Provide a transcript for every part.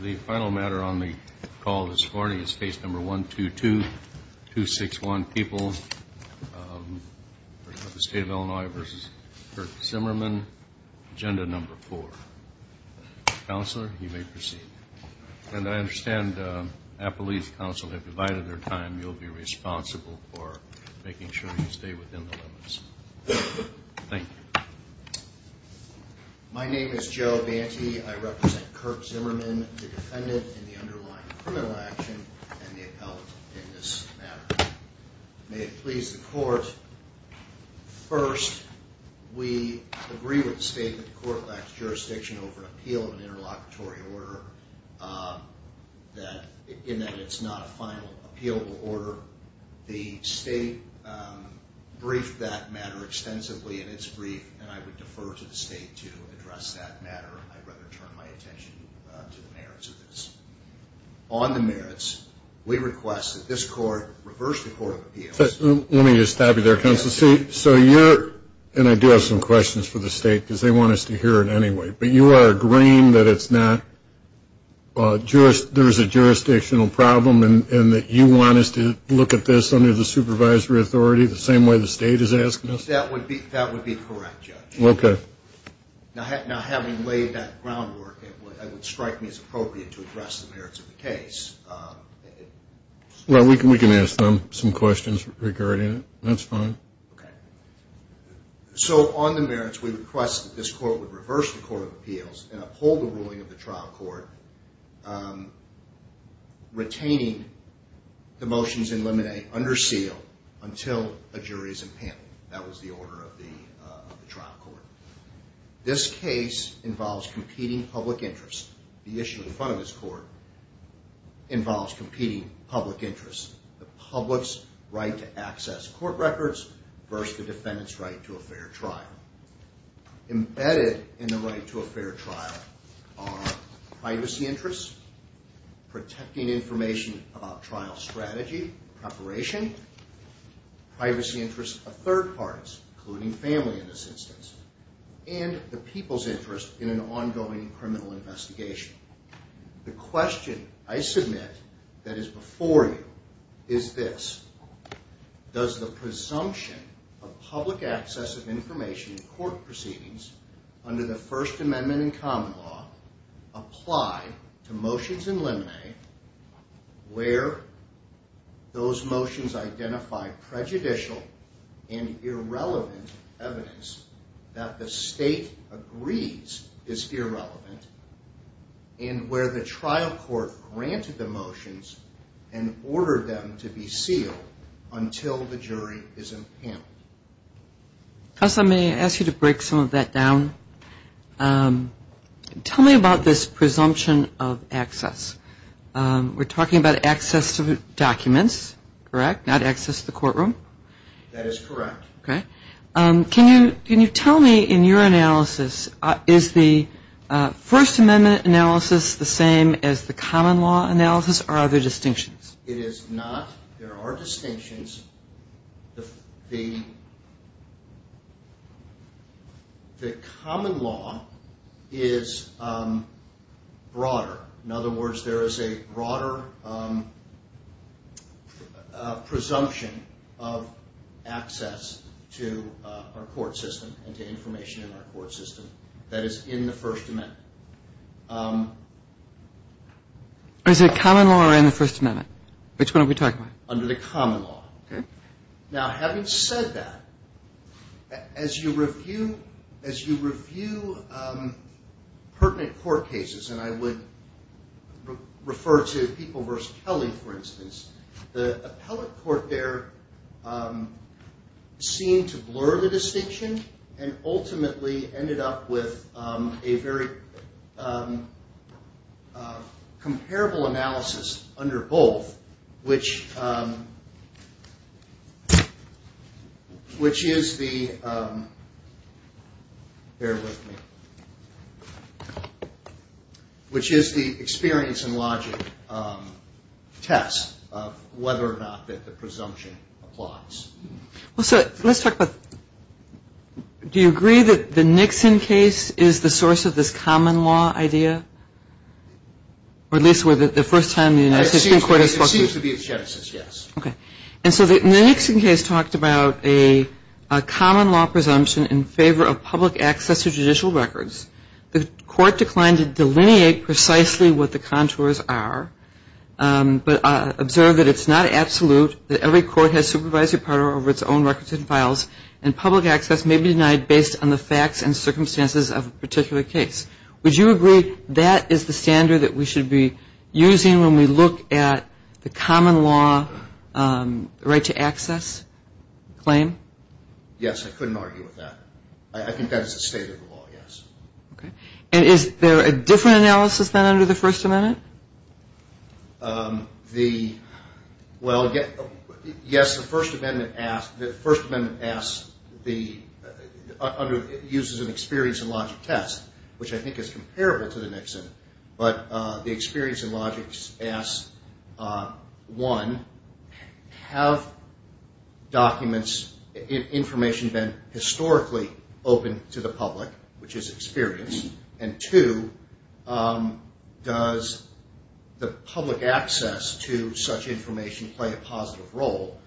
The final matter on the call this morning is case number 122261, People of the State of Illinois v. Kirk Zimmerman, Agenda number 4. Counselor, you may proceed. And I understand Appalachian Council have divided their time. You'll be responsible for making sure you stay within the limits. Thank you. My name is Joe Banty. I represent Kirk Zimmerman, the defendant in the underlying criminal action and the appellate in this matter. May it please the court, first, we agree with the state that the court lacks jurisdiction over an appeal of an interlocutory order in that it's not a final appealable order. The state briefed that matter extensively in its brief, and I would defer to the state to address that matter. I'd rather turn my attention to the merits of this. On the merits, we request that this court reverse the court of appeals. Let me just stop you there, Counselor. So you're – and I do have some questions for the state because they want us to hear it anyway. But you are agreeing that it's not – there's a jurisdictional problem and that you want us to look at this under the supervisory authority the same way the state is asking us? That would be correct, Judge. Okay. Now, having laid that groundwork, it would strike me as appropriate to address the merits of the case. Well, we can ask them some questions regarding it. That's fine. Okay. So on the merits, we request that this court would reverse the court of appeals and uphold the ruling of the trial court, retaining the motions in limine under seal until a jury is impampled. That was the order of the trial court. This case involves competing public interests. The issue in front of this court involves competing public interests. The public's right to access court records versus the defendant's right to a fair trial. Embedded in the right to a fair trial are privacy interests, protecting information about trial strategy, preparation, privacy interests of third parties, including family in this instance, and the people's interest in an ongoing criminal investigation. The question I submit that is before you is this. Does the presumption of public access of information in court proceedings under the First Amendment and common law apply to motions in limine where those motions identify prejudicial and irrelevant evidence that the state agrees is irrelevant, and where the trial court granted the motions and ordered them to be sealed until the jury is impampled? Counsel, may I ask you to break some of that down? Tell me about this presumption of access. We're talking about access to documents, correct, not access to the courtroom? That is correct. Okay. Can you tell me in your analysis, is the First Amendment analysis the same as the common law analysis, or are there distinctions? It is not. There are distinctions. The common law is broader. In other words, there is a broader presumption of access to our court system and to information in our court system that is in the First Amendment. Is it common law or in the First Amendment? Which one are we talking about? Under the common law. Okay. Now, having said that, as you review pertinent court cases, and I would refer to People v. Kelly, for instance, the appellate court there seemed to blur the distinction and ultimately ended up with a very comparable analysis under both, which is the experience and logic test of whether or not that the presumption applies. Well, so let's talk about, do you agree that the Nixon case is the source of this common law idea? Or at least the first time the United States Supreme Court has spoken? There seems to be a chance, yes. Okay. And so the Nixon case talked about a common law presumption in favor of public access to judicial records. The court declined to delineate precisely what the contours are, but observed that it's not absolute, that every court has supervisory power over its own records and files, and public access may be denied based on the facts and circumstances of a particular case. Would you agree that is the standard that we should be using when we look at the common law right to access claim? Yes, I couldn't argue with that. I think that is the state of the law, yes. Okay. And is there a different analysis than under the First Amendment? Well, yes, the First Amendment asks, uses an experience and logic test, which I think is comparable to the Nixon, but the experience and logic asks, one, have documents, information been historically open to the public, which is experience, and, two, does the public access to such information play a positive role,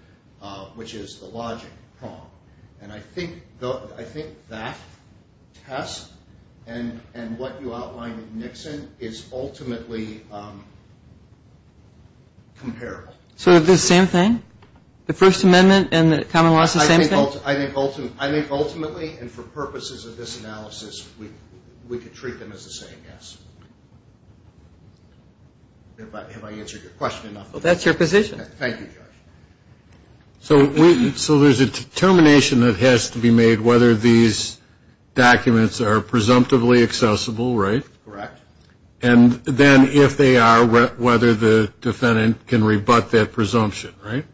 which is the logic prong. And I think that test and what you outlined in Nixon is ultimately comparable. So the same thing? The First Amendment and the common law is the same thing? I think ultimately, and for purposes of this analysis, we could treat them as the same, yes. Have I answered your question enough? Well, that's your position. Thank you, Judge. So there's a determination that has to be made whether these documents are presumptively accessible, right? Correct. And then if they are, whether the defendant can rebut that presumption, right?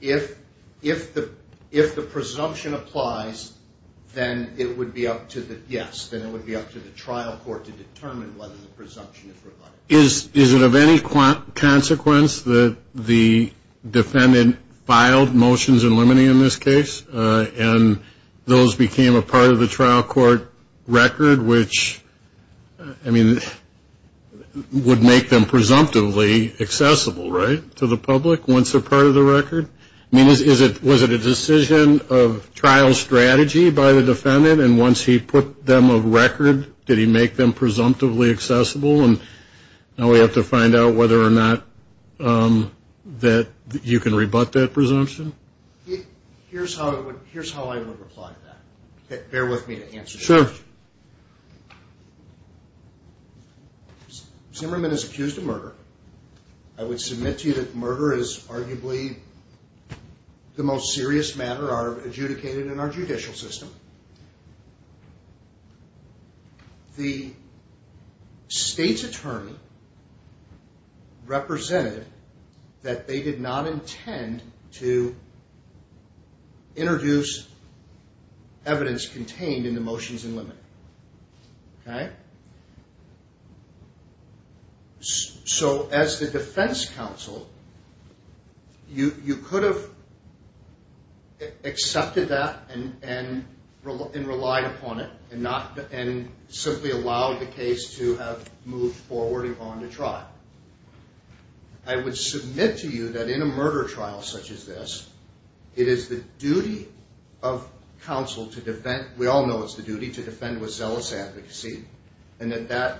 If the presumption applies, then it would be up to the, yes, then it would be up to the trial court to determine whether the presumption is rebutted. Is it of any consequence that the defendant filed motions in limine in this case, and those became a part of the trial court record, which, I mean, would make them presumptively accessible, right, to the public? Once a part of the record? I mean, was it a decision of trial strategy by the defendant? And once he put them of record, did he make them presumptively accessible? And now we have to find out whether or not that you can rebut that presumption? Here's how I would reply to that. Bear with me to answer your question. Sure. Zimmerman is accused of murder. I would submit to you that murder is arguably the most serious matter adjudicated in our judicial system. The state's attorney represented that they did not intend to introduce evidence contained in the motions in limine. Okay? So as the defense counsel, you could have accepted that and relied upon it and simply allowed the case to have moved forward and gone to trial. I would submit to you that in a murder trial such as this, it is the duty of counsel to defend. We all know it's the duty to defend with zealous advocacy and that that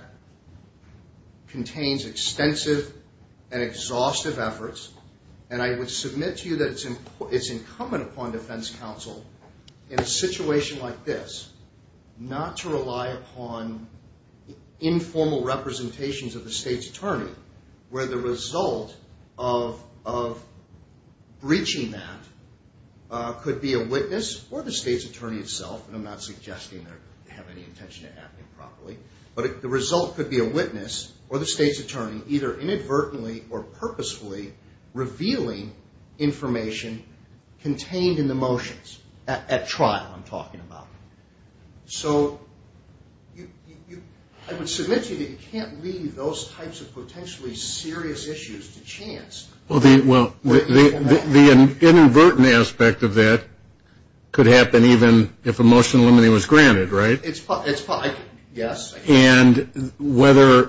contains extensive and exhaustive efforts. And I would submit to you that it's incumbent upon defense counsel in a situation like this not to rely upon informal representations of the state's attorney, where the result of breaching that could be a witness or the state's attorney itself. And I'm not suggesting they have any intention of acting properly. But the result could be a witness or the state's attorney either inadvertently or purposefully revealing information contained in the motions at trial I'm talking about. So I would submit to you that you can't leave those types of potentially serious issues to chance. Well, the inadvertent aspect of that could happen even if a motion in limine was granted, right? Yes. And whether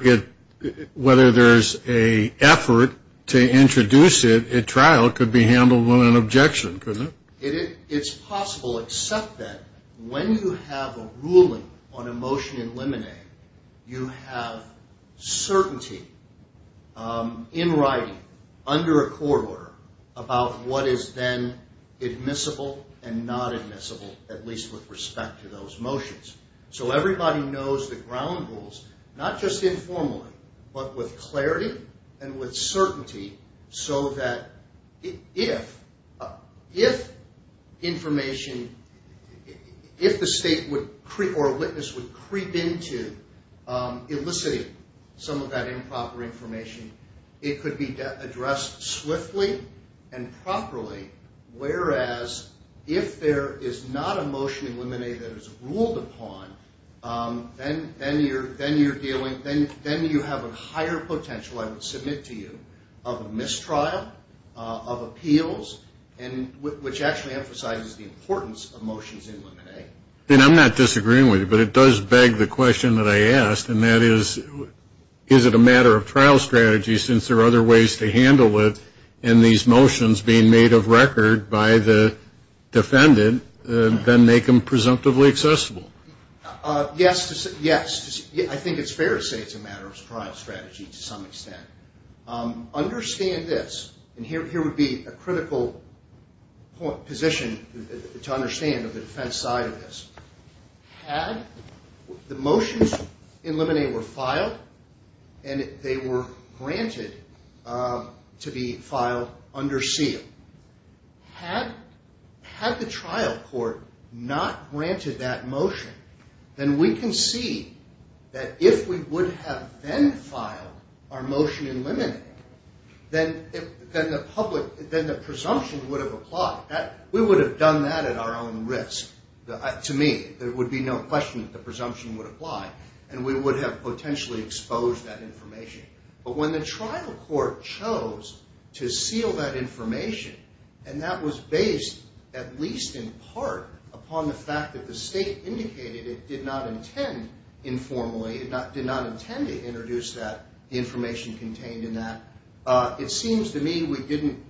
there's an effort to introduce it at trial could be handled with an objection, couldn't it? It's possible except that when you have a ruling on a motion in limine, you have certainty in writing under a court order about what is then admissible and not admissible, at least with respect to those motions. So everybody knows the ground rules, not just informally, but with clarity and with certainty so that if information, if the state or a witness would creep into eliciting some of that improper information, it could be addressed swiftly and properly. Whereas if there is not a motion in limine that is ruled upon, then you're dealing, then you have a higher potential, I would submit to you, of a mistrial, of appeals, which actually emphasizes the importance of motions in limine. I'm not disagreeing with you, but it does beg the question that I asked, and that is, is it a matter of trial strategy since there are other ways to handle it, and these motions being made of record by the defendant then make them presumptively accessible? Yes. I think it's fair to say it's a matter of trial strategy to some extent. Understand this, and here would be a critical position to understand on the defense side of this. Had the motions in limine were filed and they were granted to be filed under seal, had the trial court not granted that motion, then we can see that if we would have then filed our motion in limine, then the presumption would have applied. We would have done that at our own risk. To me, there would be no question that the presumption would apply, and we would have potentially exposed that information. But when the trial court chose to seal that information, and that was based at least in part upon the fact that the state indicated it did not intend informally, did not intend to introduce that information contained in that, it seems to me we didn't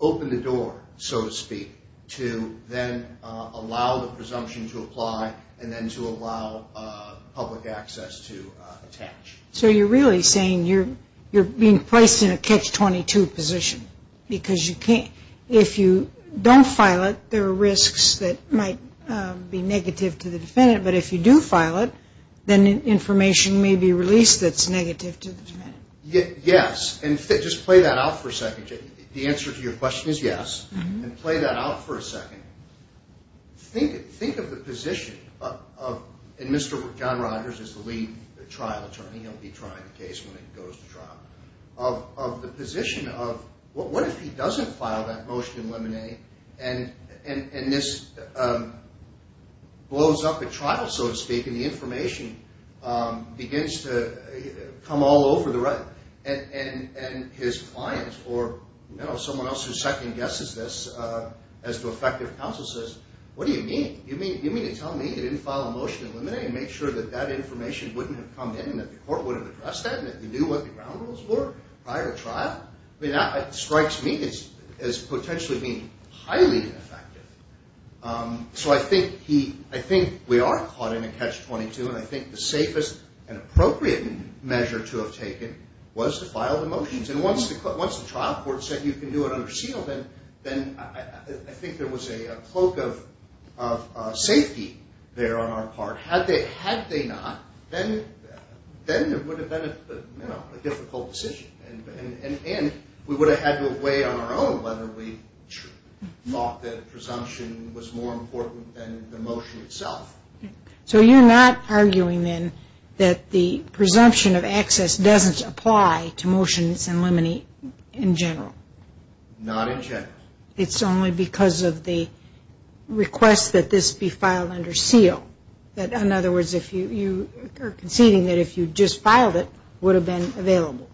open the door, so to speak, to then allow the presumption to apply and then to allow public access to attach. So you're really saying you're being placed in a catch-22 position, because if you don't file it, there are risks that might be negative to the defendant. But if you do file it, then information may be released that's negative to the defendant. Yes. And just play that out for a second. The answer to your question is yes. And play that out for a second. Think of the position of – and Mr. John Rogers is the lead trial attorney. He'll be trying the case when it goes to trial. Of the position of what if he doesn't file that motion in limine, and this blows up at trial, so to speak, and the information begins to come all over the record. And his client or someone else who second-guesses this as to effective counsel says, what do you mean? You mean to tell me you didn't file a motion in limine and make sure that that information wouldn't have come in and that the court would have addressed that and that you knew what the ground rules were prior to trial? I mean, that strikes me as potentially being highly ineffective. So I think we are caught in a catch-22, and I think the safest and appropriate measure to have taken was to file the motions. And once the trial court said you can do it under seal, then I think there was a cloak of safety there on our part. Had they not, then it would have been a difficult decision. And we would have had to weigh on our own whether we thought the presumption was more important than the motion itself. So you're not arguing, then, that the presumption of access doesn't apply to motions in limine in general? Not in general. It's only because of the request that this be filed under seal. In other words, you are conceding that if you just filed it, it would have been available.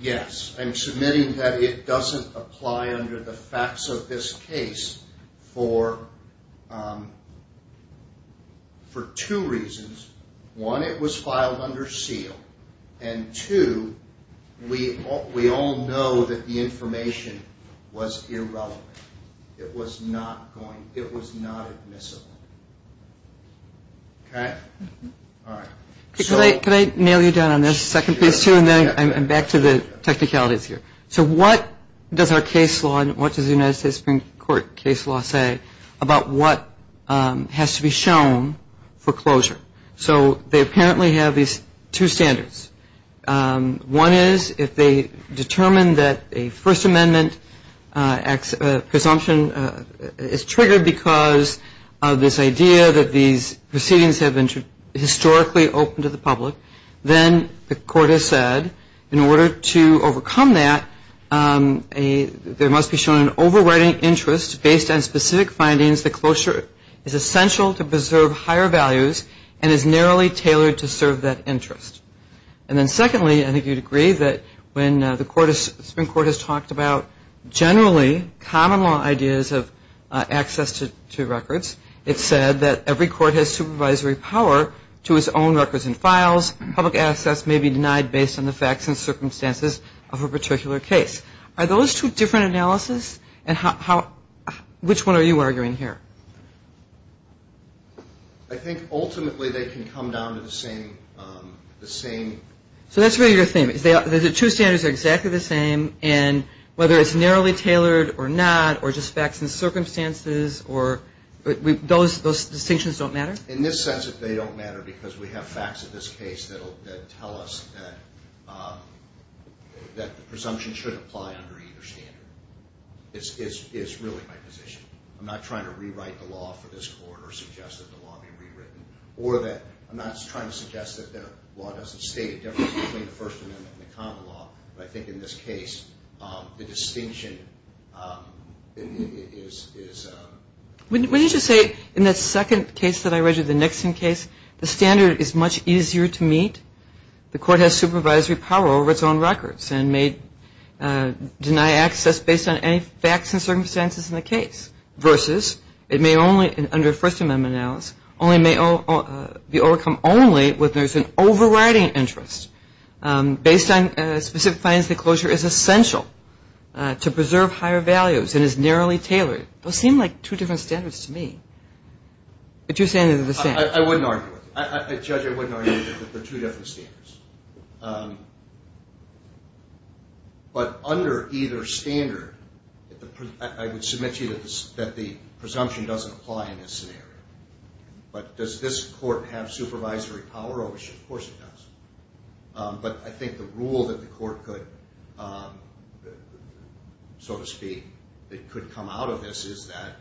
Yes. I'm submitting that it doesn't apply under the facts of this case for two reasons. One, it was filed under seal. And two, we all know that the information was irrelevant. It was not admissible. Okay? All right. Could I nail you down on this second piece, too? And then I'm back to the technicalities here. So what does our case law and what does the United States Supreme Court case law say about what has to be shown for closure? So they apparently have these two standards. One is if they determine that a First Amendment presumption is triggered because of this idea that these proceedings have been historically open to the public, then the court has said, in order to overcome that, there must be shown an overriding interest based on specific findings that closure is essential to preserve higher values and is narrowly tailored to serve that interest. And then secondly, I think you'd agree that when the Supreme Court has talked about generally common law ideas of access to records, it said that every court has supervisory power to its own records and files. Public access may be denied based on the facts and circumstances of a particular case. Are those two different analyses? And which one are you arguing here? I think ultimately they can come down to the same. So that's really your thing. The two standards are exactly the same, and whether it's narrowly tailored or not, or just facts and circumstances, those distinctions don't matter? In this sense, they don't matter because we have facts of this case that tell us that the presumption should apply under either standard. It's really my position. I'm not trying to rewrite the law for this court or suggest that the law be rewritten, or that I'm not trying to suggest that the law doesn't state a difference between the First Amendment and the common law, but I think in this case the distinction is important. Wouldn't you say in that second case that I read you, the Nixon case, the standard is much easier to meet? The court has supervisory power over its own records and may deny access based on any facts and circumstances in the case, versus it may only, under First Amendment analysis, only may be overcome only when there's an overriding interest. Based on specific findings, the closure is essential to preserve higher values and is narrowly tailored. Those seem like two different standards to me. But you're saying they're the same. I wouldn't argue with it. I judge I wouldn't argue with it, that they're two different standards. But under either standard, I would submit to you that the presumption doesn't apply in this scenario. But does this court have supervisory power over it? Of course it does. But I think the rule that the court could, so to speak, that could come out of this is that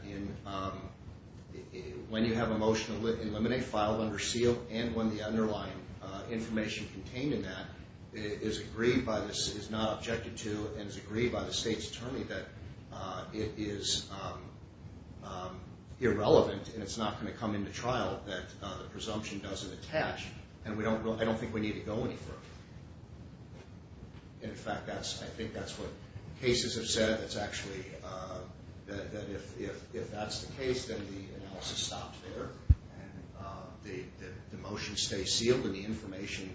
when you have a motion to eliminate, file, under seal, and when the underlying information contained in that is not objected to and is agreed by the state's attorney that it is irrelevant and it's not going to come into trial, that the presumption doesn't attach. And I don't think we need to go any further. In fact, I think that's what cases have said. It's actually that if that's the case, then the analysis stops there and the motion stays sealed and the information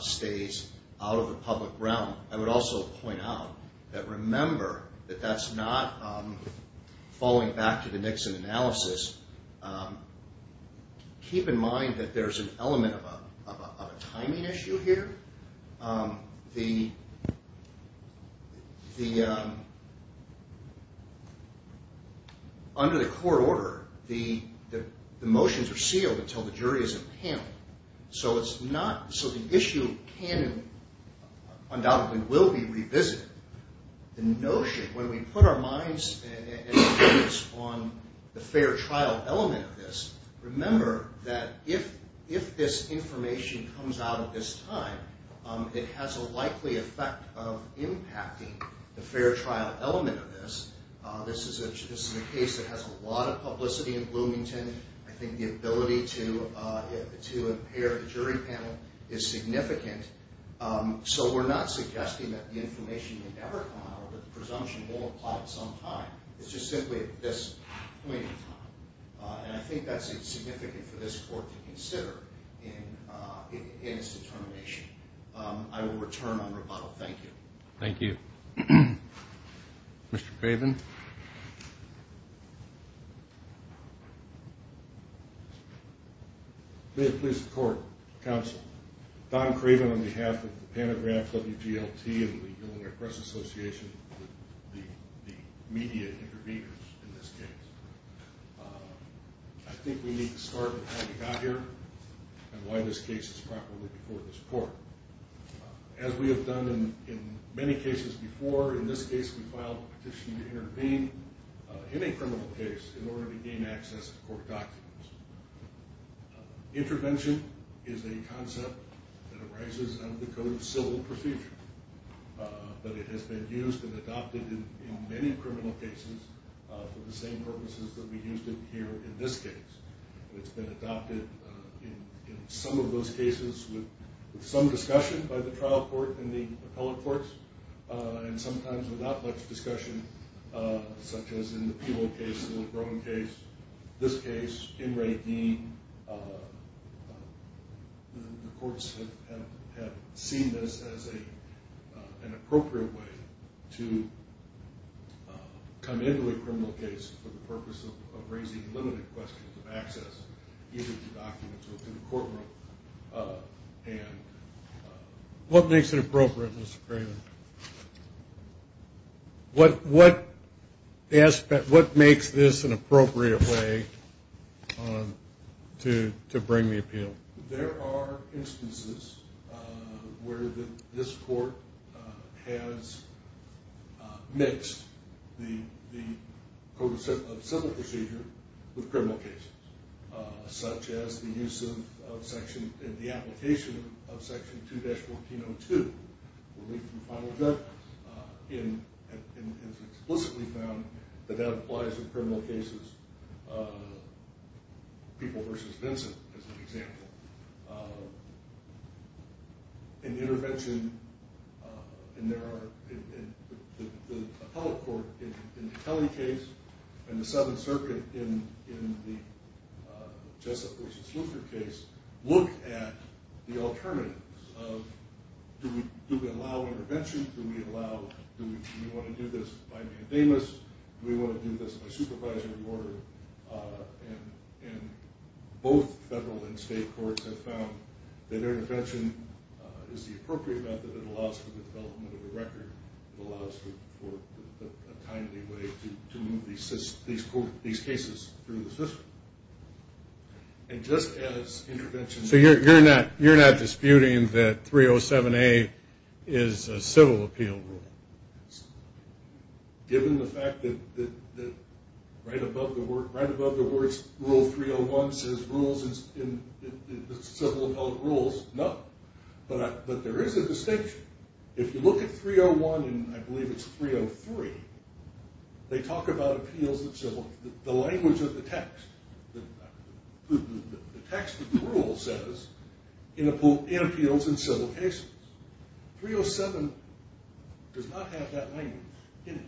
stays out of the public realm. I would also point out that remember that that's not falling back to the Nixon analysis. Keep in mind that there's an element of a timing issue here. The, under the court order, the motions are sealed until the jury is in the panel. So it's not, so the issue can and undoubtedly will be revisited. The notion, when we put our minds and opinions on the fair trial element of this, remember that if this information comes out at this time, it has a likely effect of impacting the fair trial element of this. This is a case that has a lot of publicity in Bloomington. I think the ability to impair the jury panel is significant. So we're not suggesting that the information may never come out, that the presumption won't apply at some time. It's just simply at this point in time. And I think that's significant for this court to consider in its determination. I will return on rebuttal. Thank you. Thank you. Mr. Craven. May it please the court, counsel. Don Craven on behalf of the Panagraph WGLT and the Illinois Press Association, the media interveners in this case. I think we need to start with how we got here and why this case is properly before this court. As we have done in many cases before, in this case we filed a petition to intervene in a criminal case in order to gain access to court documents. Intervention is a concept that arises out of the Code of Civil Procedure, but it has been used and adopted in many criminal cases for the same purposes that we used it here in this case. It's been adopted in some of those cases with some discussion by the trial court and the appellate courts and sometimes without much discussion, such as in the Peeble case, the LeBron case, this case, In re Deen. The courts have seen this as an appropriate way to come into a criminal case for the purpose of raising limited questions of access either to documents or to the courtroom. What makes it appropriate, Mr. Craven? What makes this an appropriate way to bring the appeal? There are instances where this court has mixed the Code of Civil Procedure with criminal cases, such as the use of Section, the application of Section 2-1402, where we can final judge, and it's explicitly found that that applies to criminal cases, Peeble v. Vincent, as an example. In the intervention, the appellate court in the Kelly case and the Seventh Circuit in the Jessup v. Sluker case look at the alternatives of, do we allow intervention, do we want to do this by mandamus, do we want to do this by supervisory order, and both federal and state courts have found that intervention is the appropriate method. It allows for the development of a record. It allows for a timely way to move these cases through the system. And just as intervention... So you're not disputing that 307A is a civil appeal rule? Given the fact that right above the words, Rule 301 says civil appellate rules, no. But there is a distinction. If you look at 301, and I believe it's 303, they talk about appeals that civil... The language of the text, the text of the rule says, it appeals in civil cases. 307 does not have that language in it.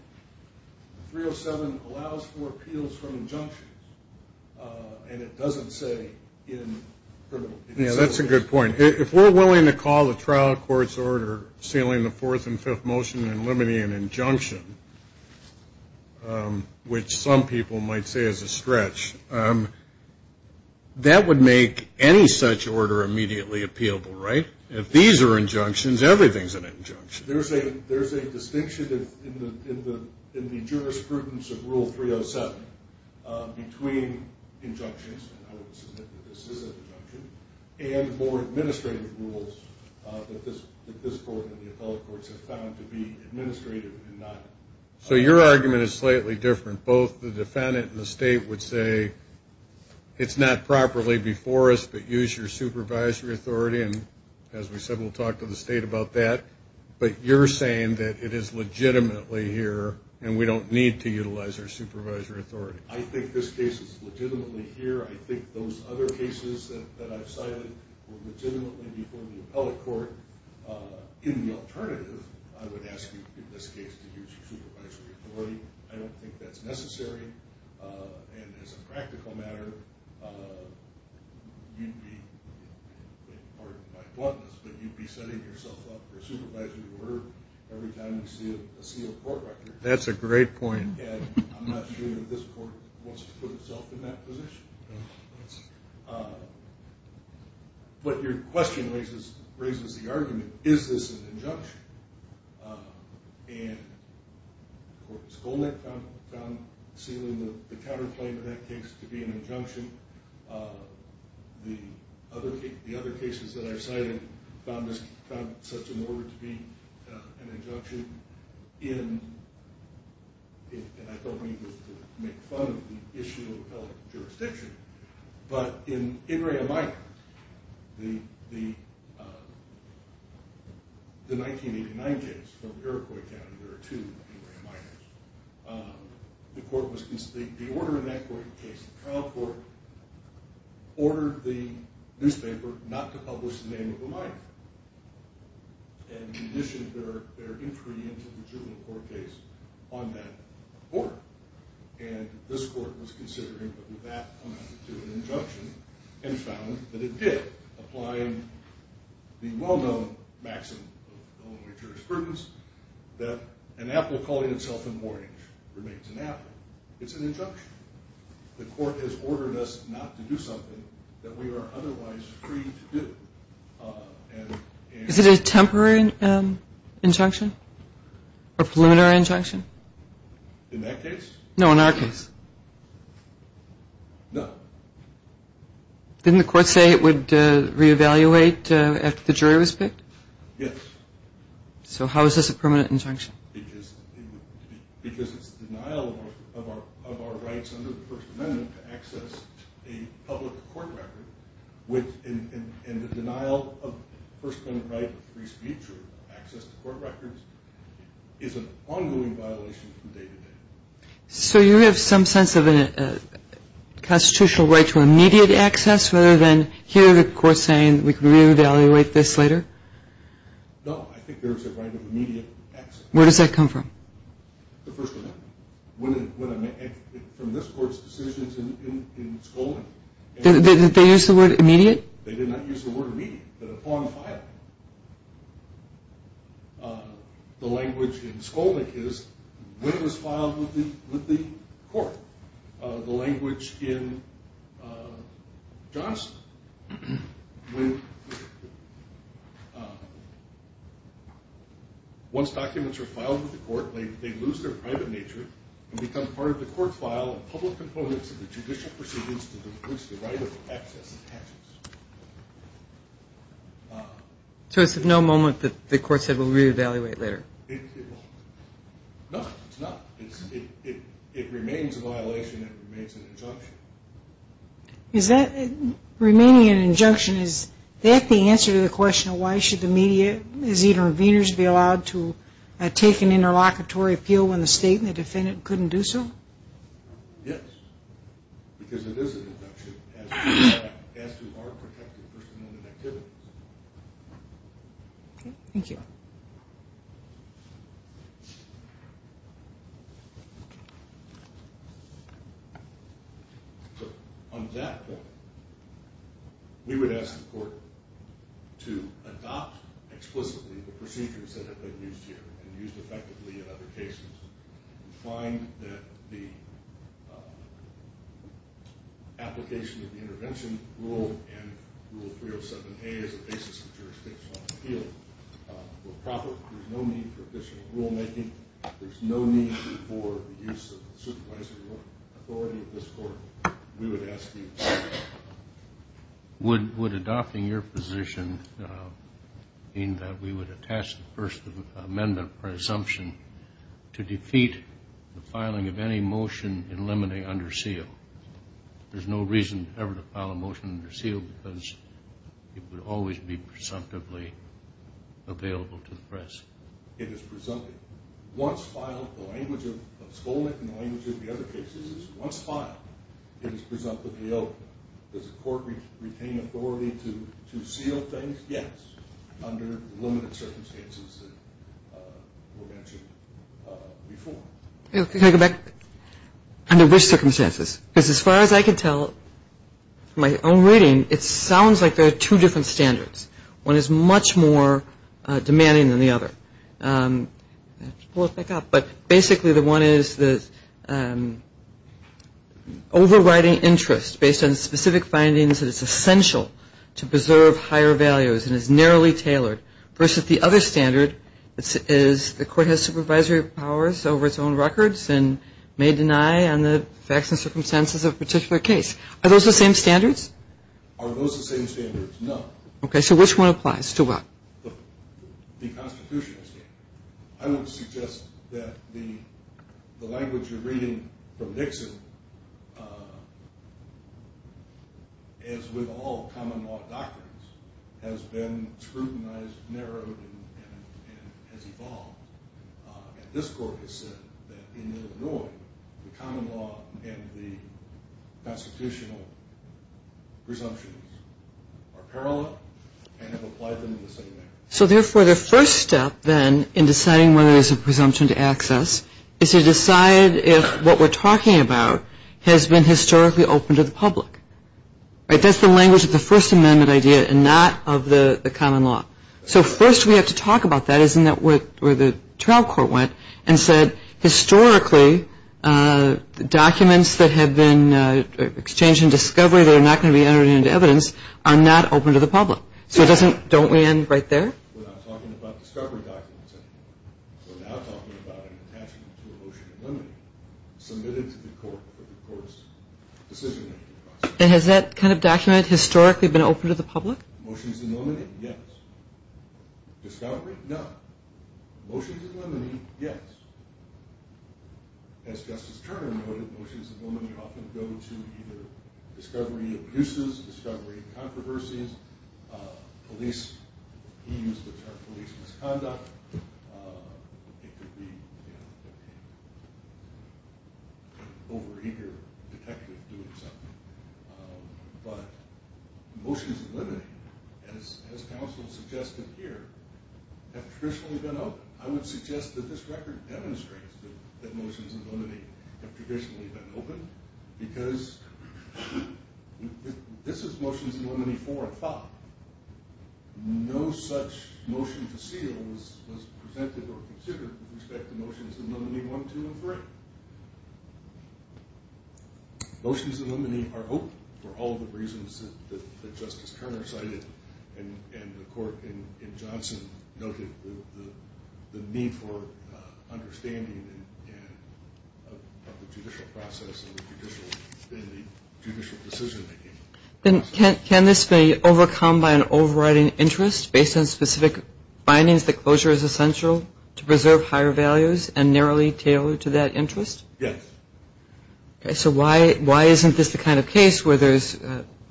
307 allows for appeals from injunctions, and it doesn't say in criminal cases. Yeah, that's a good point. If we're willing to call the trial court's order sealing the fourth and fifth motion and limiting an injunction, which some people might say is a stretch, that would make any such order immediately appealable, right? If these are injunctions, everything's an injunction. There's a distinction in the jurisprudence of Rule 307 between injunctions, and I would submit that this is an injunction, and more administrative rules that this court and the appellate courts have found to be administrative and not... So your argument is slightly different. Both the defendant and the state would say, it's not properly before us, but use your supervisory authority and, as we said, we'll talk to the state about that. But you're saying that it is legitimately here and we don't need to utilize our supervisory authority. I think this case is legitimately here. I think those other cases that I've cited were legitimately before the appellate court. In the alternative, I would ask you, in this case, to use your supervisory authority. I don't think that's necessary. And as a practical matter, you'd be, pardon my bluntness, but you'd be setting yourself up for a supervisory order every time you see a court record. That's a great point. And I'm not sure that this court wants to put itself in that position. And, of course, Goldnick found sealing the counterclaim in that case to be an injunction. The other cases that I've cited found such an order to be an injunction in... And I don't mean this to make fun of the issue of appellate jurisdiction, but in In Re A Minor, the 1989 case from Iroquois County, there are two In Re A Minors. The court was... The order in that court case, the trial court, ordered the newspaper not to publish the name of a minor. And they issued their entry into the juvenile court case on that order. And this court was considering whether that amounted to an injunction and found that it did, applying the well-known maxim of Illinois jurisprudence that an apple calling itself an orange remains an apple. It's an injunction. The court has ordered us not to do something that we are otherwise free to do. And... Is it a temporary injunction or preliminary injunction? In that case? No, in our case. No. Didn't the court say it would re-evaluate after the jury was picked? Yes. So how is this a permanent injunction? Because it's the denial of our rights under the First Amendment to access a public court record, and the denial of First Amendment right to free speech or access to court records is an ongoing violation from day to day. So you have some sense of a constitutional right to immediate access rather than hear the court saying we can re-evaluate this later? No. I think there is a right of immediate access. Where does that come from? The First Amendment. From this court's decisions in Skolnik. Did they use the word immediate? They did not use the word immediate, but upon filing. The language in Skolnik is when it was filed with the court. The language in Johnston, when once documents are filed with the court, they lose their private nature and become part of the court file and public components of the judicial proceedings to enforce the right of access and patience. So it's of no moment that the court said we'll re-evaluate later? No, it's not. It remains a violation. It remains an injunction. Remaining an injunction, is that the answer to the question of why should the media, as interveners, be allowed to take an interlocutory appeal when the state and the defendant couldn't do so? Yes. Because it is an injunction as to our protected First Amendment activities. Thank you. On that note, we would ask the court to adopt explicitly the procedures that have been used here and used effectively in other cases. We find that the application of the intervention rule and Rule 307A as a basis of jurisdiction on appeal will profit. There's no need for official rulemaking. There's no need for the use of supervisory authority of this court. We would ask you to adopt. Would adopting your position mean that we would attach the First Amendment presumption to defeat the filing of any motion in limine under seal? There's no reason ever to file a motion under seal because it would always be presumptively available to the press. It is presumptive. Once filed, the language of Skolnik and the language of the other cases is once filed, it is presumptively open. Does the court retain authority to seal things? Yes, under the limited circumstances that were mentioned before. Can I go back? Under which circumstances? Because as far as I can tell from my own reading, it sounds like there are two different standards. One is much more demanding than the other. Basically, the one is overriding interest based on specific findings that it's essential to preserve higher values and is narrowly tailored versus the other standard is the court has supervisory powers over its own records and may deny on the facts and circumstances of a particular case. Are those the same standards? Are those the same standards? No. Okay, so which one applies to what? The constitutional standard. I would suggest that the language you're reading from Nixon, as with all common law doctrines, has been scrutinized, narrowed, and has evolved. And this court has said that in Illinois, the common law and the constitutional presumptions are parallel and have applied them in the same manner. So therefore, the first step then in deciding whether there's a presumption to access is to decide if what we're talking about has been historically open to the public. That's the language of the First Amendment idea and not of the common law. So first we have to talk about that. Isn't that where the trial court went and said, historically documents that have been exchanged in discovery that are not going to be entered into evidence are not open to the public? So it doesn't – don't we end right there? We're not talking about discovery documents anymore. We're now talking about an attachment to a motion in limine submitted to the court for the court's decision-making process. And has that kind of document historically been open to the public? Motions in limine, yes. Discovery, no. Motions in limine, yes. As Justice Turner noted, motions in limine often go to either discovery abuses, discovery controversies, police – he used the term police misconduct. It could be an over-eager detective doing something. But motions in limine, as counsel suggested here, have traditionally been open. I would suggest that this record demonstrates that motions in limine have traditionally been open because this is motions in limine 4 and 5. No such motion to seal was presented or considered with respect to motions in limine 1, 2, and 3. Motions in limine are open for all the reasons that Justice Turner cited and the court in Johnson noted the need for understanding of the judicial process and the judicial decision-making process. Can this be overcome by an overriding interest based on specific findings that closure is essential to preserve higher values and narrowly tailored to that interest? Yes. So why isn't this the kind of case where there's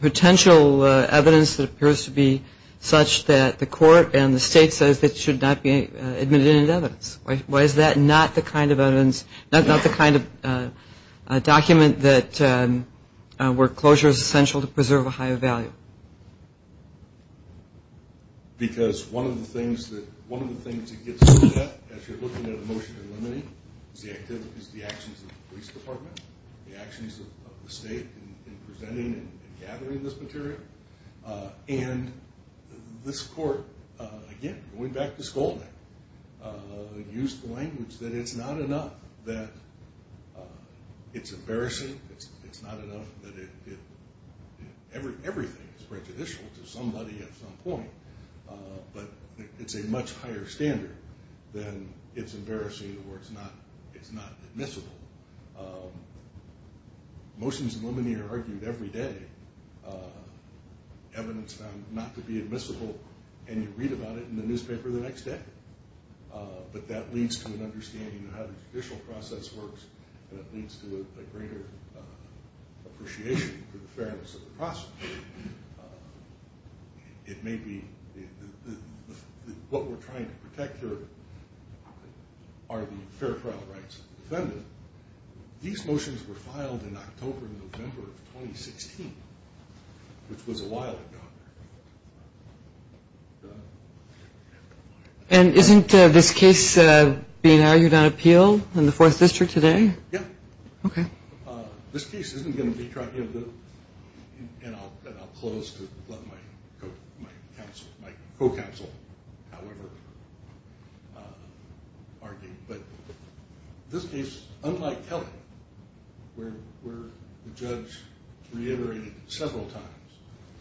potential evidence that appears to be such that the court and the state says it should not be admitted in evidence? Why is that not the kind of evidence – not the kind of document that – where closure is essential to preserve a higher value? Because one of the things it gets at, as you're looking at a motion in limine, is the actions of the police department, the actions of the state in presenting and gathering this material. And this court, again, going back to Skolnik, used the language that it's not enough that it's embarrassing, it's not enough that it – everything is prejudicial to somebody at some point, but it's a much higher standard than it's embarrassing or it's not admissible. Motions in limine are argued every day, evidence found not to be admissible, and you read about it in the newspaper the next day. But that leads to an understanding of how the judicial process works, and it leads to a greater appreciation for the fairness of the process. It may be – what we're trying to protect here are the fair trial rights of the defendant. These motions were filed in October and November of 2016, which was a while ago. And isn't this case being argued on appeal in the Fourth District today? Yeah. Okay. This case isn't going to be tried in the – and I'll close to let my co-counsel, however, argue. But this case, unlike Kelly, where the judge reiterated several times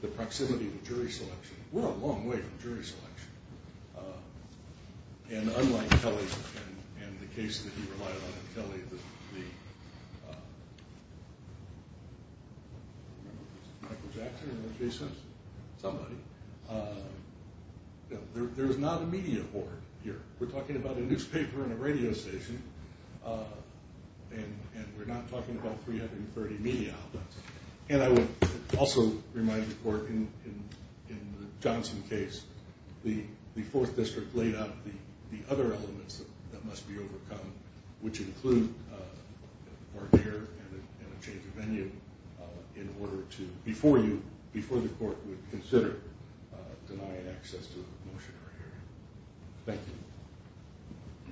the proximity to jury selection, we're a long way from jury selection. And unlike Kelly and the case that he relied on in Kelly, the – Michael Jackson in this case? Somebody. There's not a media board here. We're talking about a newspaper and a radio station, and we're not talking about 330 media outlets. And I would also remind the court in the Johnson case, the Fourth District laid out the other elements that must be overcome, which include court care and a change of venue in order to – before you – before the court would consider denying access to a motion or hearing.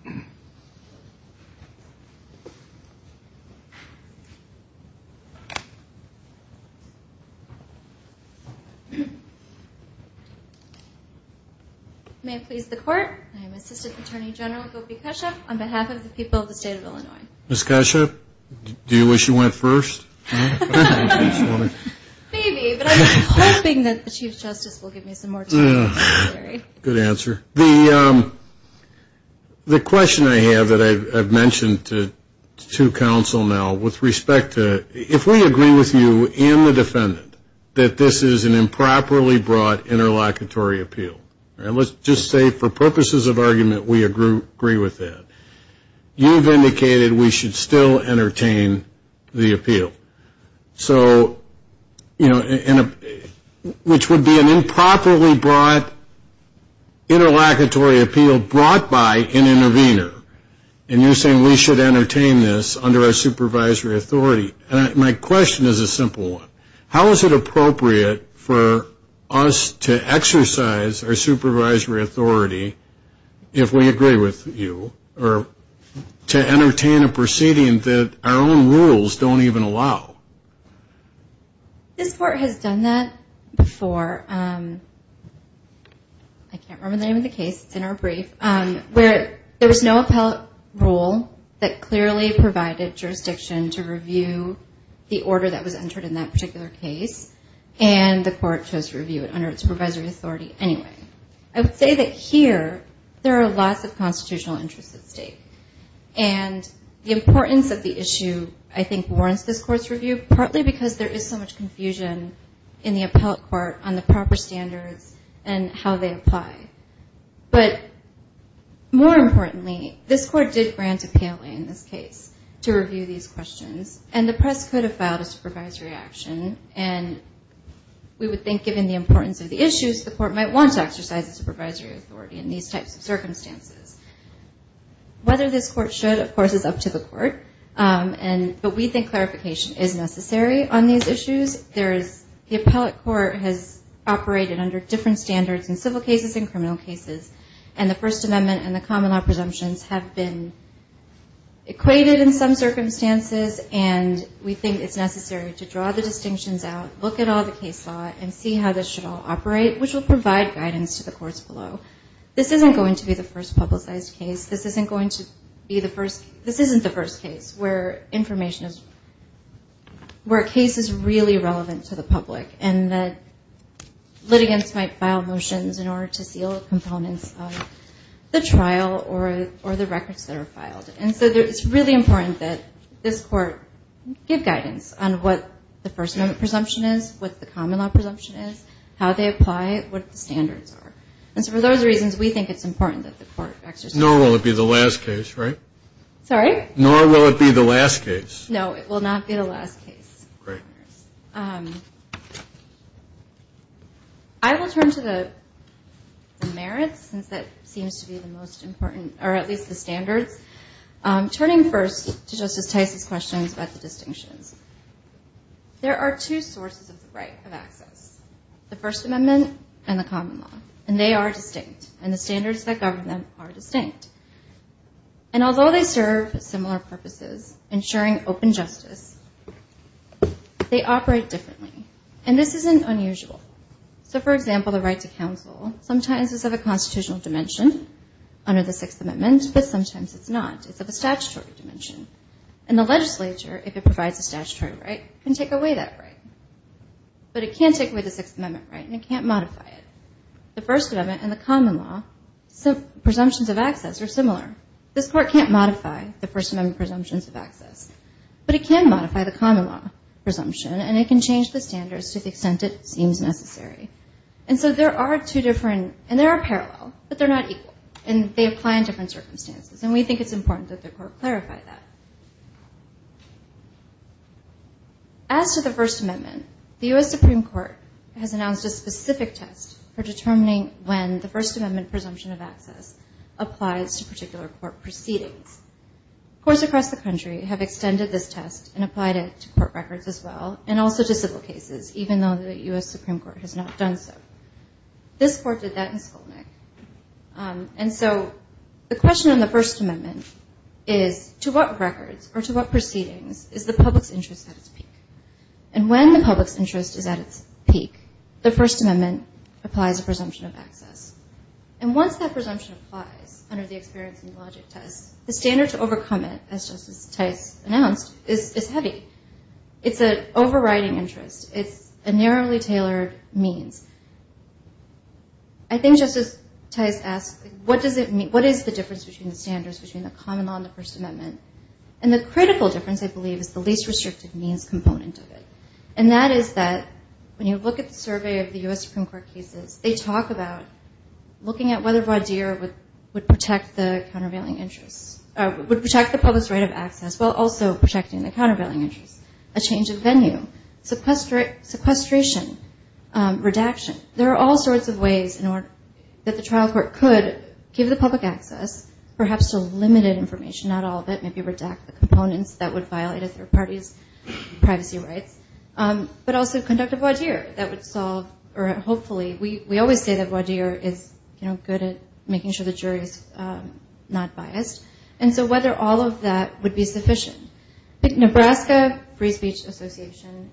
Thank you. May it please the court, I am Assistant Attorney General Gopi Kashyap on behalf of the people of the state of Illinois. Ms. Kashyap, do you wish you went first? Maybe, but I'm hoping that the Chief Justice will give me some more time. Good answer. The question I have that I've mentioned to counsel now with respect to – if we agree with you and the defendant that this is an improperly brought interlocutory appeal, and let's just say for purposes of argument we agree with that, so, you know, which would be an improperly brought interlocutory appeal brought by an intervener, and you're saying we should entertain this under our supervisory authority. My question is a simple one. How is it appropriate for us to exercise our supervisory authority, if we agree with you, to entertain a proceeding that our own rules don't even allow? This court has done that before. I can't remember the name of the case. It's in our brief. There was no appellate rule that clearly provided jurisdiction to review the order that was entered in that particular case, and the court chose to review it under its supervisory authority anyway. I would say that here there are lots of constitutional interests at stake, and the importance of the issue I think warrants this court's review, partly because there is so much confusion in the appellate court on the proper standards and how they apply. But more importantly, this court did grant appeal in this case to review these questions, and the press could have filed a supervisory action, and we would think given the importance of the issues, the court might want to exercise the supervisory authority in these types of circumstances. Whether this court should, of course, is up to the court, but we think clarification is necessary on these issues. The appellate court has operated under different standards in civil cases and criminal cases, and the First Amendment and the common law presumptions have been equated in some circumstances, and we think it's necessary to draw the distinctions out, look at all the case law, and see how this should all operate, which will provide guidance to the courts below. This isn't going to be the first publicized case. This isn't the first case where a case is really relevant to the public and that litigants might file motions in order to seal components of the trial or the records that are filed. And so it's really important that this court give guidance on what the First Amendment presumption is, what the common law presumption is, how they apply it, what the standards are. And so for those reasons, we think it's important that the court exercise it. Nor will it be the last case, right? Sorry? Nor will it be the last case. No, it will not be the last case. Great. I will turn to the merits, since that seems to be the most important, or at least the standards. Turning first to Justice Tice's questions about the distinctions, there are two sources of the right of access, the First Amendment and the common law, and they are distinct, and the standards that govern them are distinct. And although they serve similar purposes, ensuring open justice, they operate differently. And this isn't unusual. So, for example, the right to counsel, sometimes it's of a constitutional dimension under the Sixth Amendment, but sometimes it's not. It's of a statutory dimension. And the legislature, if it provides a statutory right, can take away that right. But it can't take away the Sixth Amendment right, and it can't modify it. The First Amendment and the common law presumptions of access are similar. This Court can't modify the First Amendment presumptions of access. But it can modify the common law presumption, and it can change the standards to the extent it seems necessary. And so there are two different, and they are parallel, but they're not equal, and they apply in different circumstances, and we think it's important that the Court clarify that. As to the First Amendment, the U.S. Supreme Court has announced a specific test for determining when the First Amendment presumption of access applies to particular court proceedings. Courts across the country have extended this test and applied it to court records as well, and also to civil cases, even though the U.S. Supreme Court has not done so. This Court did that in Skolnik. And so the question on the First Amendment is, to what records or to what proceedings is the public's interest at its peak? And when the public's interest is at its peak, the First Amendment applies a presumption of access. And once that presumption applies under the experience and logic test, the standard to overcome it, as Justice Tice announced, is heavy. It's an overriding interest. It's a narrowly tailored means. I think Justice Tice asked, what does it mean? What is the difference between the standards between the common law and the First Amendment? And the critical difference, I believe, is the least restrictive means component of it. And that is that when you look at the survey of the U.S. Supreme Court cases, they talk about looking at whether Vaudeer would protect the countervailing interest, would protect the public's right of access while also protecting the countervailing interest. A change of venue, sequestration, redaction. There are all sorts of ways that the trial court could give the public access, perhaps to limited information, not all of it, maybe redact the components that would violate a third party's privacy rights, but also conduct a Vaudeer that would solve, or hopefully. We always say that Vaudeer is good at making sure the jury is not biased. And so whether all of that would be sufficient. I think Nebraska Free Speech Association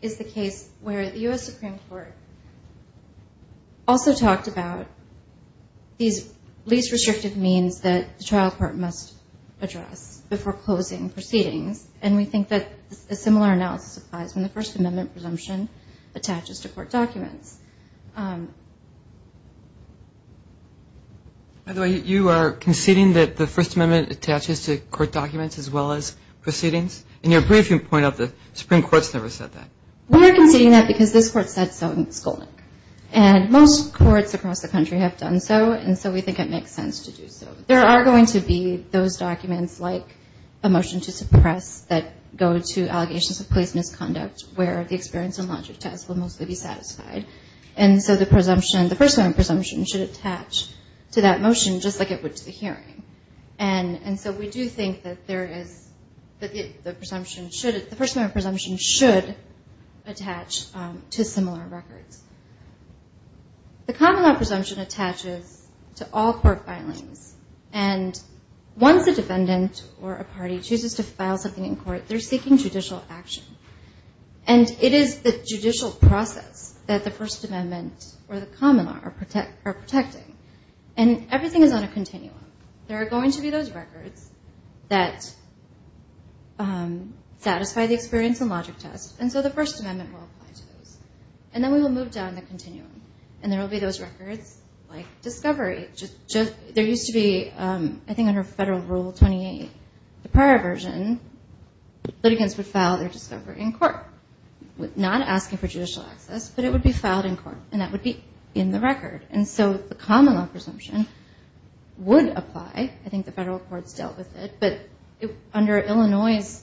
is the case where the U.S. Supreme Court also talked about these least restrictive means that the trial court must address before closing proceedings. And we think that a similar analysis applies when the First Amendment presumption attaches to court documents. By the way, you are conceding that the First Amendment attaches to court documents as well as proceedings? In your brief you point out that the Supreme Court has never said that. We are conceding that because this Court said so in Skolnik. And most courts across the country have done so, and so we think it makes sense to do so. There are going to be those documents like a motion to suppress that go to allegations of police misconduct where the experience and logic test will mostly be satisfied. And so the First Amendment presumption should attach to that motion just like it would to the hearing. And so we do think that the First Amendment presumption should attach to similar records. The common law presumption attaches to all court filings. And once a defendant or a party chooses to file something in court, they are seeking judicial action. And it is the judicial process that the First Amendment or the common law are protecting. And everything is on a continuum. There are going to be those records that satisfy the experience and logic test, and so the First Amendment will apply to those. And then we will move down the continuum, and there will be those records like discovery. There used to be, I think under Federal Rule 28, the prior version, litigants would file their discovery in court, not asking for judicial access, but it would be filed in court, and that would be in the record. And so the common law presumption would apply. I think the federal courts dealt with it. But under Illinois'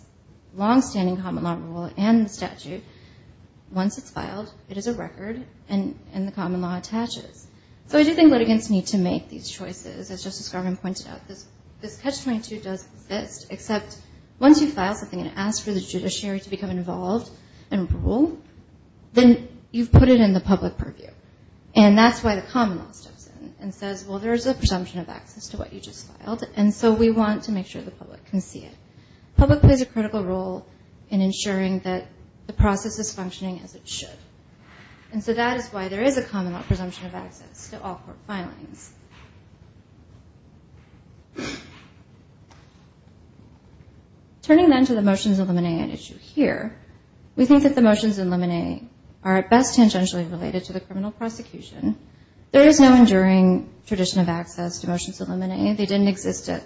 longstanding common law rule and the statute, once it's filed, it is a record, and the common law attaches. So I do think litigants need to make these choices, as Justice Garvin pointed out. This Catch-22 does exist, except once you file something and ask for the judiciary to become involved and rule, then you've put it in the public purview. And that's why the common law steps in and says, well, there's a presumption of access to what you just filed, and so we want to make sure the public can see it. Public plays a critical role in ensuring that the process is functioning as it should. And so that is why there is a common law presumption of access to all court filings. Turning, then, to the motions in Limine and issue here, we think that the motions in Limine are at best tangentially related to the criminal prosecution. There is no enduring tradition of access to motions in Limine. They didn't exist at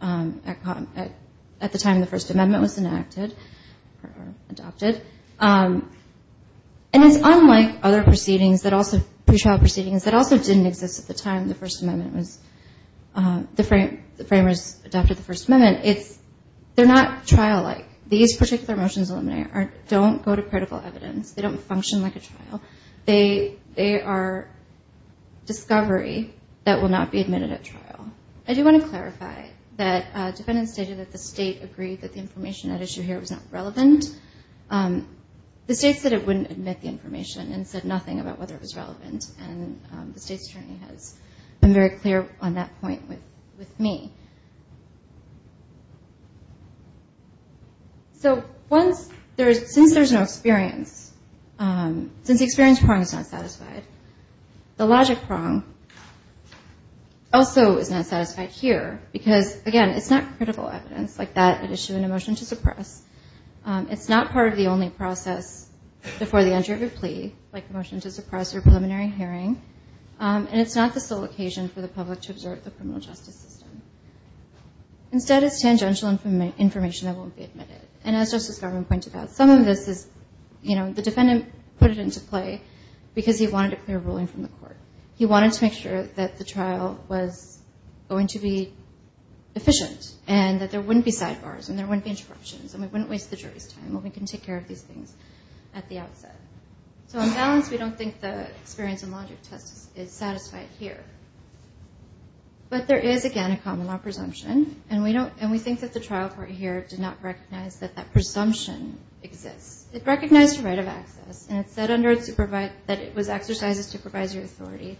the time the First Amendment was enacted or adopted. And it's unlike other proceedings, pre-trial proceedings, that also didn't exist at the time the Framers adopted the First Amendment. They're not trial-like. These particular motions in Limine don't go to critical evidence. They don't function like a trial. They are discovery that will not be admitted at trial. I do want to clarify that defendants stated that the State agreed that the information at issue here was not relevant. The State said it wouldn't admit the information and said nothing about whether it was relevant. And the State's attorney has been very clear on that point with me. So since there's no experience, since the experience prong is not satisfied, the logic prong also is not satisfied here because, again, it's not critical evidence. It's like that at issue in a motion to suppress. It's not part of the only process before the entry of a plea, like a motion to suppress or preliminary hearing. And it's not the sole occasion for the public to observe the criminal justice system. Instead, it's tangential information that won't be admitted. And as Justice Garland pointed out, some of this is, you know, the defendant put it into play because he wanted a clear ruling from the court. He wanted to make sure that the trial was going to be efficient and that there wouldn't be sidebars and there wouldn't be interruptions and we wouldn't waste the jury's time and we can take care of these things at the outset. So on balance, we don't think the experience and logic test is satisfied here. But there is, again, a common law presumption, and we think that the trial court here did not recognize that that presumption exists. It recognized the right of access, and it said that it was exercised as supervisory authority.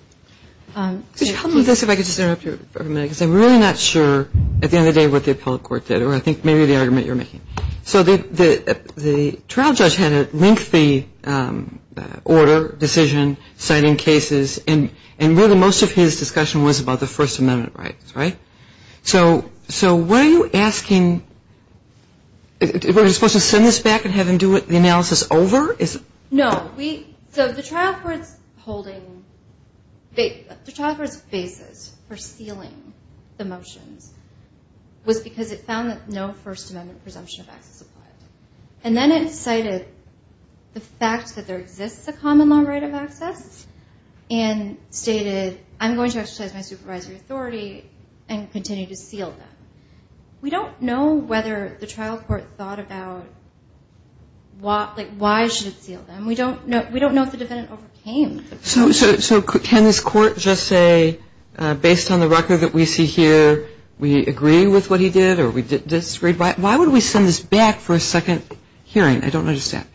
Could you help me with this if I could just interrupt you for a minute? Because I'm really not sure at the end of the day what the appellate court did or I think maybe the argument you're making. So the trial judge had a lengthy order, decision, citing cases, and really most of his discussion was about the First Amendment rights, right? So were you asking – were you supposed to send this back and have him do the analysis over? No. So the trial court's holding – the trial court's basis for sealing the motions was because it found that no First Amendment presumption of access applied. And then it cited the fact that there exists a common law right of access and stated I'm going to exercise my supervisory authority and continue to seal that. We don't know whether the trial court thought about like why should it seal them. We don't know if the defendant overcame the presumption. So can this court just say based on the record that we see here we agree with what he did or we disagree? Why would we send this back for a second hearing? I don't understand.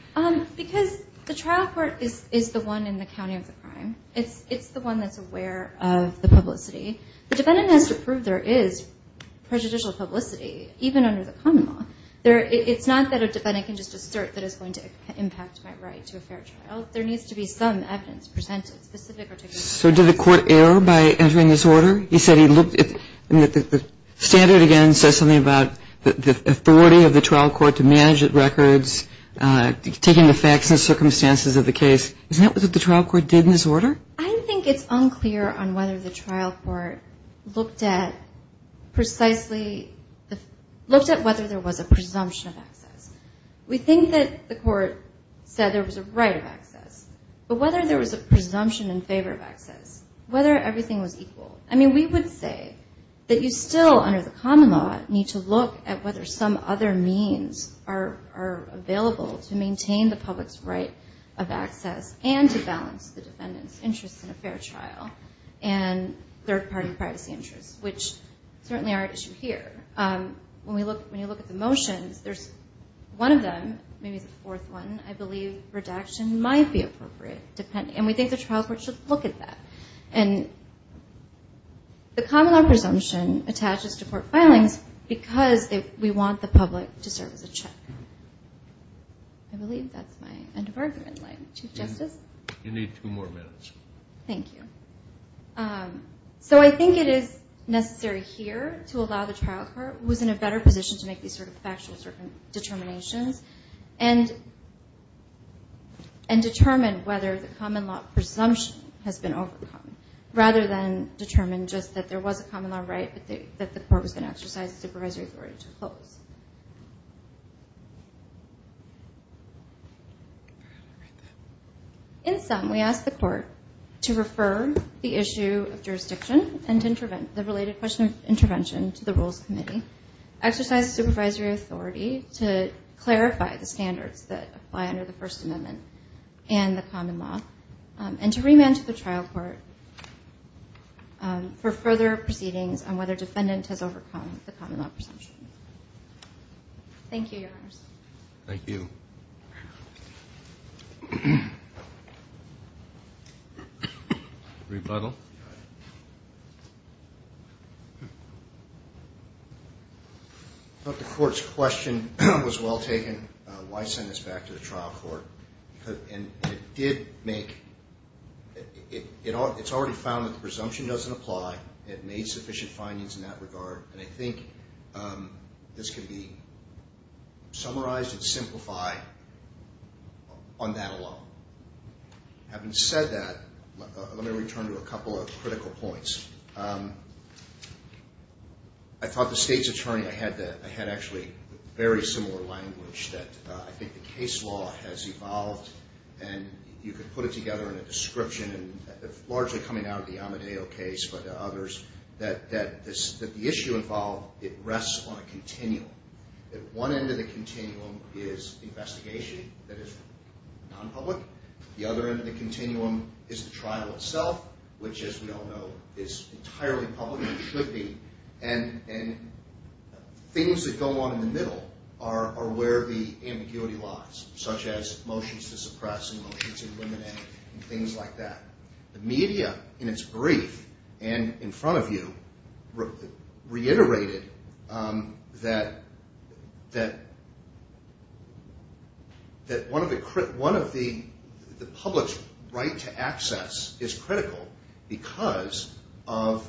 Because the trial court is the one in the county of the crime. It's the one that's aware of the publicity. The defendant has to prove there is prejudicial publicity even under the common law. It's not that a defendant can just assert that it's going to impact my right to a fair trial. There needs to be some evidence presented, specific or particular evidence. So did the court err by entering this order? He said he looked – the standard again says something about the authority of the trial court to manage records, taking the facts and circumstances of the case. Isn't that what the trial court did in this order? I think it's unclear on whether the trial court looked at precisely – looked at whether there was a presumption of access. We think that the court said there was a right of access. But whether there was a presumption in favor of access, whether everything was equal, I mean we would say that you still under the common law need to look at whether some other means are available to maintain the public's right of access and to balance the defendant's interest in a fair trial and third-party privacy interests, which certainly are at issue here. When you look at the motions, there's one of them, maybe the fourth one, I believe redaction might be appropriate. And we think the trial court should look at that. And the common law presumption attaches to court filings because we want the public to serve as a check. I believe that's my end of argument line. Chief Justice? You need two more minutes. Thank you. So I think it is necessary here to allow the trial court, who is in a better position to make these sort of factual determinations, and determine whether the common law presumption has been overcome, rather than determine just that there was a common law right, but that the court was going to exercise the supervisory authority to close. In sum, we ask the court to refer the issue of jurisdiction and the related question of intervention to the rules committee, exercise the supervisory authority to clarify the standards that apply under the First Amendment and the common law, and to remand to the trial court for further proceedings on whether a defendant has overcome the common law presumption. Thank you, Your Honors. Thank you. Rebuttal? I thought the court's question was well taken. Why send this back to the trial court? And it did make, it's already found that the presumption doesn't apply. It made sufficient findings in that regard. And I think this can be summarized and simplified on that alone. Having said that, let me return to a couple of critical points. I thought the state's attorney, I had actually very similar language that I think the case law has evolved, and you could put it together in a description, largely coming out of the Amadeo case, but others, that the issue involved, it rests on a continuum. That one end of the continuum is investigation that is nonpublic. The other end of the continuum is the trial itself, which, as we all know, is entirely public and should be. And things that go on in the middle are where the ambiguity lies, such as motions to suppress and motions to eliminate and things like that. The media, in its brief and in front of you, reiterated that one of the public's right to access is critical because of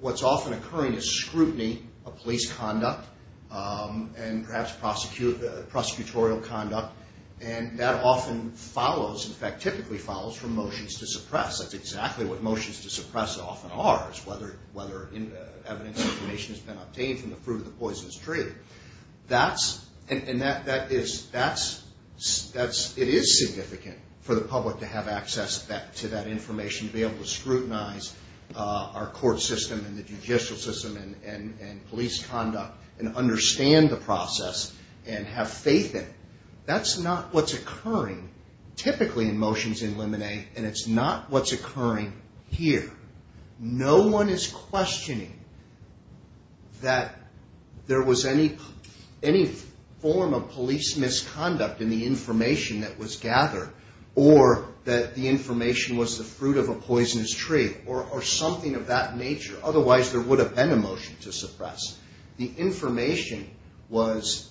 what's often occurring is scrutiny of police conduct and perhaps prosecutorial conduct, and that often follows, in fact, typically follows from motions to suppress. That's exactly what motions to suppress often are, is whether evidence or information has been obtained from the fruit of the poisonous tree. And it is significant for the public to have access to that information, to be able to scrutinize our court system and the judicial system and police conduct and understand the process and have faith in it. That's not what's occurring typically in motions to eliminate, and it's not what's occurring here. No one is questioning that there was any form of police misconduct in the information that was gathered or that the information was the fruit of a poisonous tree or something of that nature. Otherwise, there would have been a motion to suppress. The information was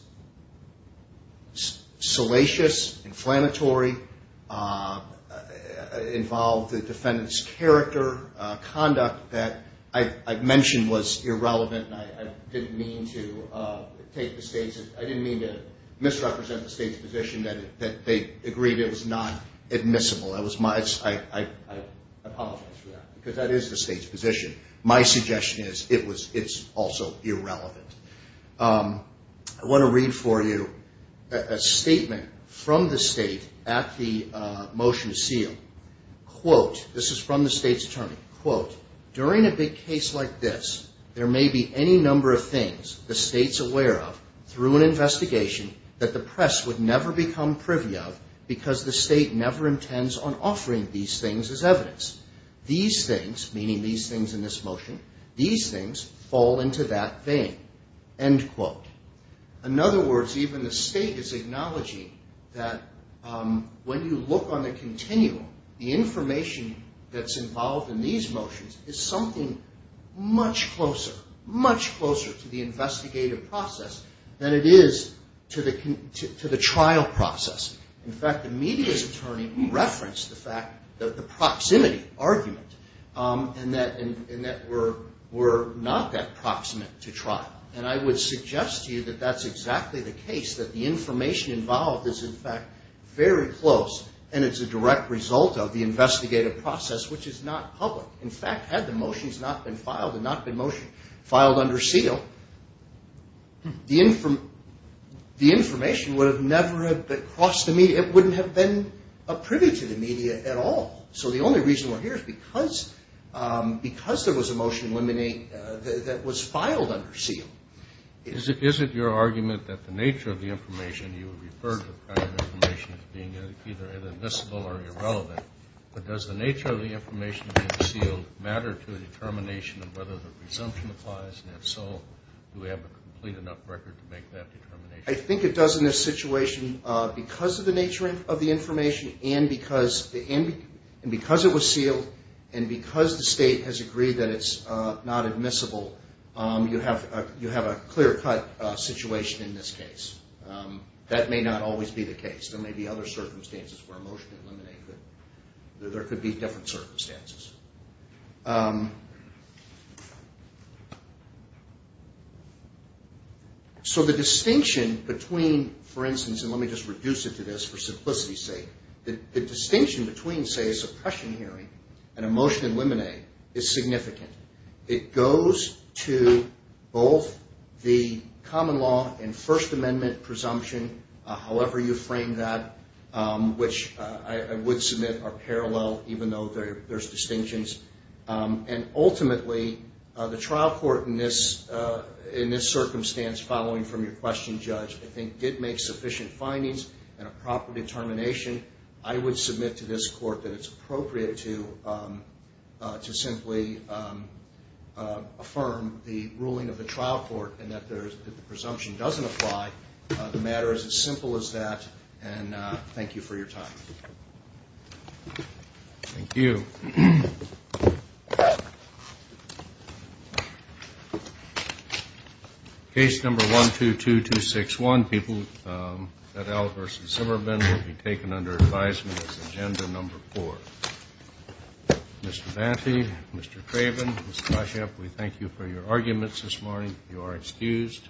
salacious, inflammatory, involved the defendant's character, conduct that I mentioned was irrelevant and I didn't mean to misrepresent the State's position that they agreed it was not admissible. I apologize for that because that is the State's position. My suggestion is it's also irrelevant. I want to read for you a statement from the State at the motion to seal. Quote, this is from the State's attorney. Quote, during a big case like this, there may be any number of things the State's aware of through an investigation that the press would never become privy of because the State never intends on offering these things as evidence. These things, meaning these things in this motion, these things fall into that vein. End quote. In other words, even the State is acknowledging that when you look on the continuum, the information that's involved in these motions is something much closer, much closer to the investigative process than it is to the trial process. In fact, the media's attorney referenced the fact, the proximity argument, and that we're not that proximate to trial. And I would suggest to you that that's exactly the case, that the information involved is in fact very close and it's a direct result of the investigative process, which is not public. In fact, had the motions not been filed and not been motioned, filed under seal, the information would have never crossed the media. It wouldn't have been a privy to the media at all. So the only reason we're here is because there was a motion that was filed under seal. Is it your argument that the nature of the information you referred to prior to the information as being either inadmissible or irrelevant, but does the nature of the information under seal matter to the determination of whether the presumption applies? And if so, do we have a complete enough record to make that determination? I think it does in this situation. Because of the nature of the information and because it was sealed and because the state has agreed that it's not admissible, you have a clear-cut situation in this case. That may not always be the case. There may be other circumstances where a motion in limine could... There could be different circumstances. So the distinction between, for instance, and let me just reduce it to this for simplicity's sake. The distinction between, say, a suppression hearing and a motion in limine is significant. It goes to both the common law and First Amendment presumption, however you frame that, which I would submit are parallel even though there's distinctions. And ultimately, the trial court in this circumstance following from your question, Judge, I think did make sufficient findings and a proper determination. I would submit to this court that it's appropriate to simply affirm the ruling of the trial court and that if the presumption doesn't apply, the matter is as simple as that. And thank you for your time. Thank you. Case number 122261, Petal versus Zimmerman, will be taken under advisement as agenda number four. Mr. Vante, Mr. Craven, Ms. Kasheff, we thank you for your arguments this morning. You are excused.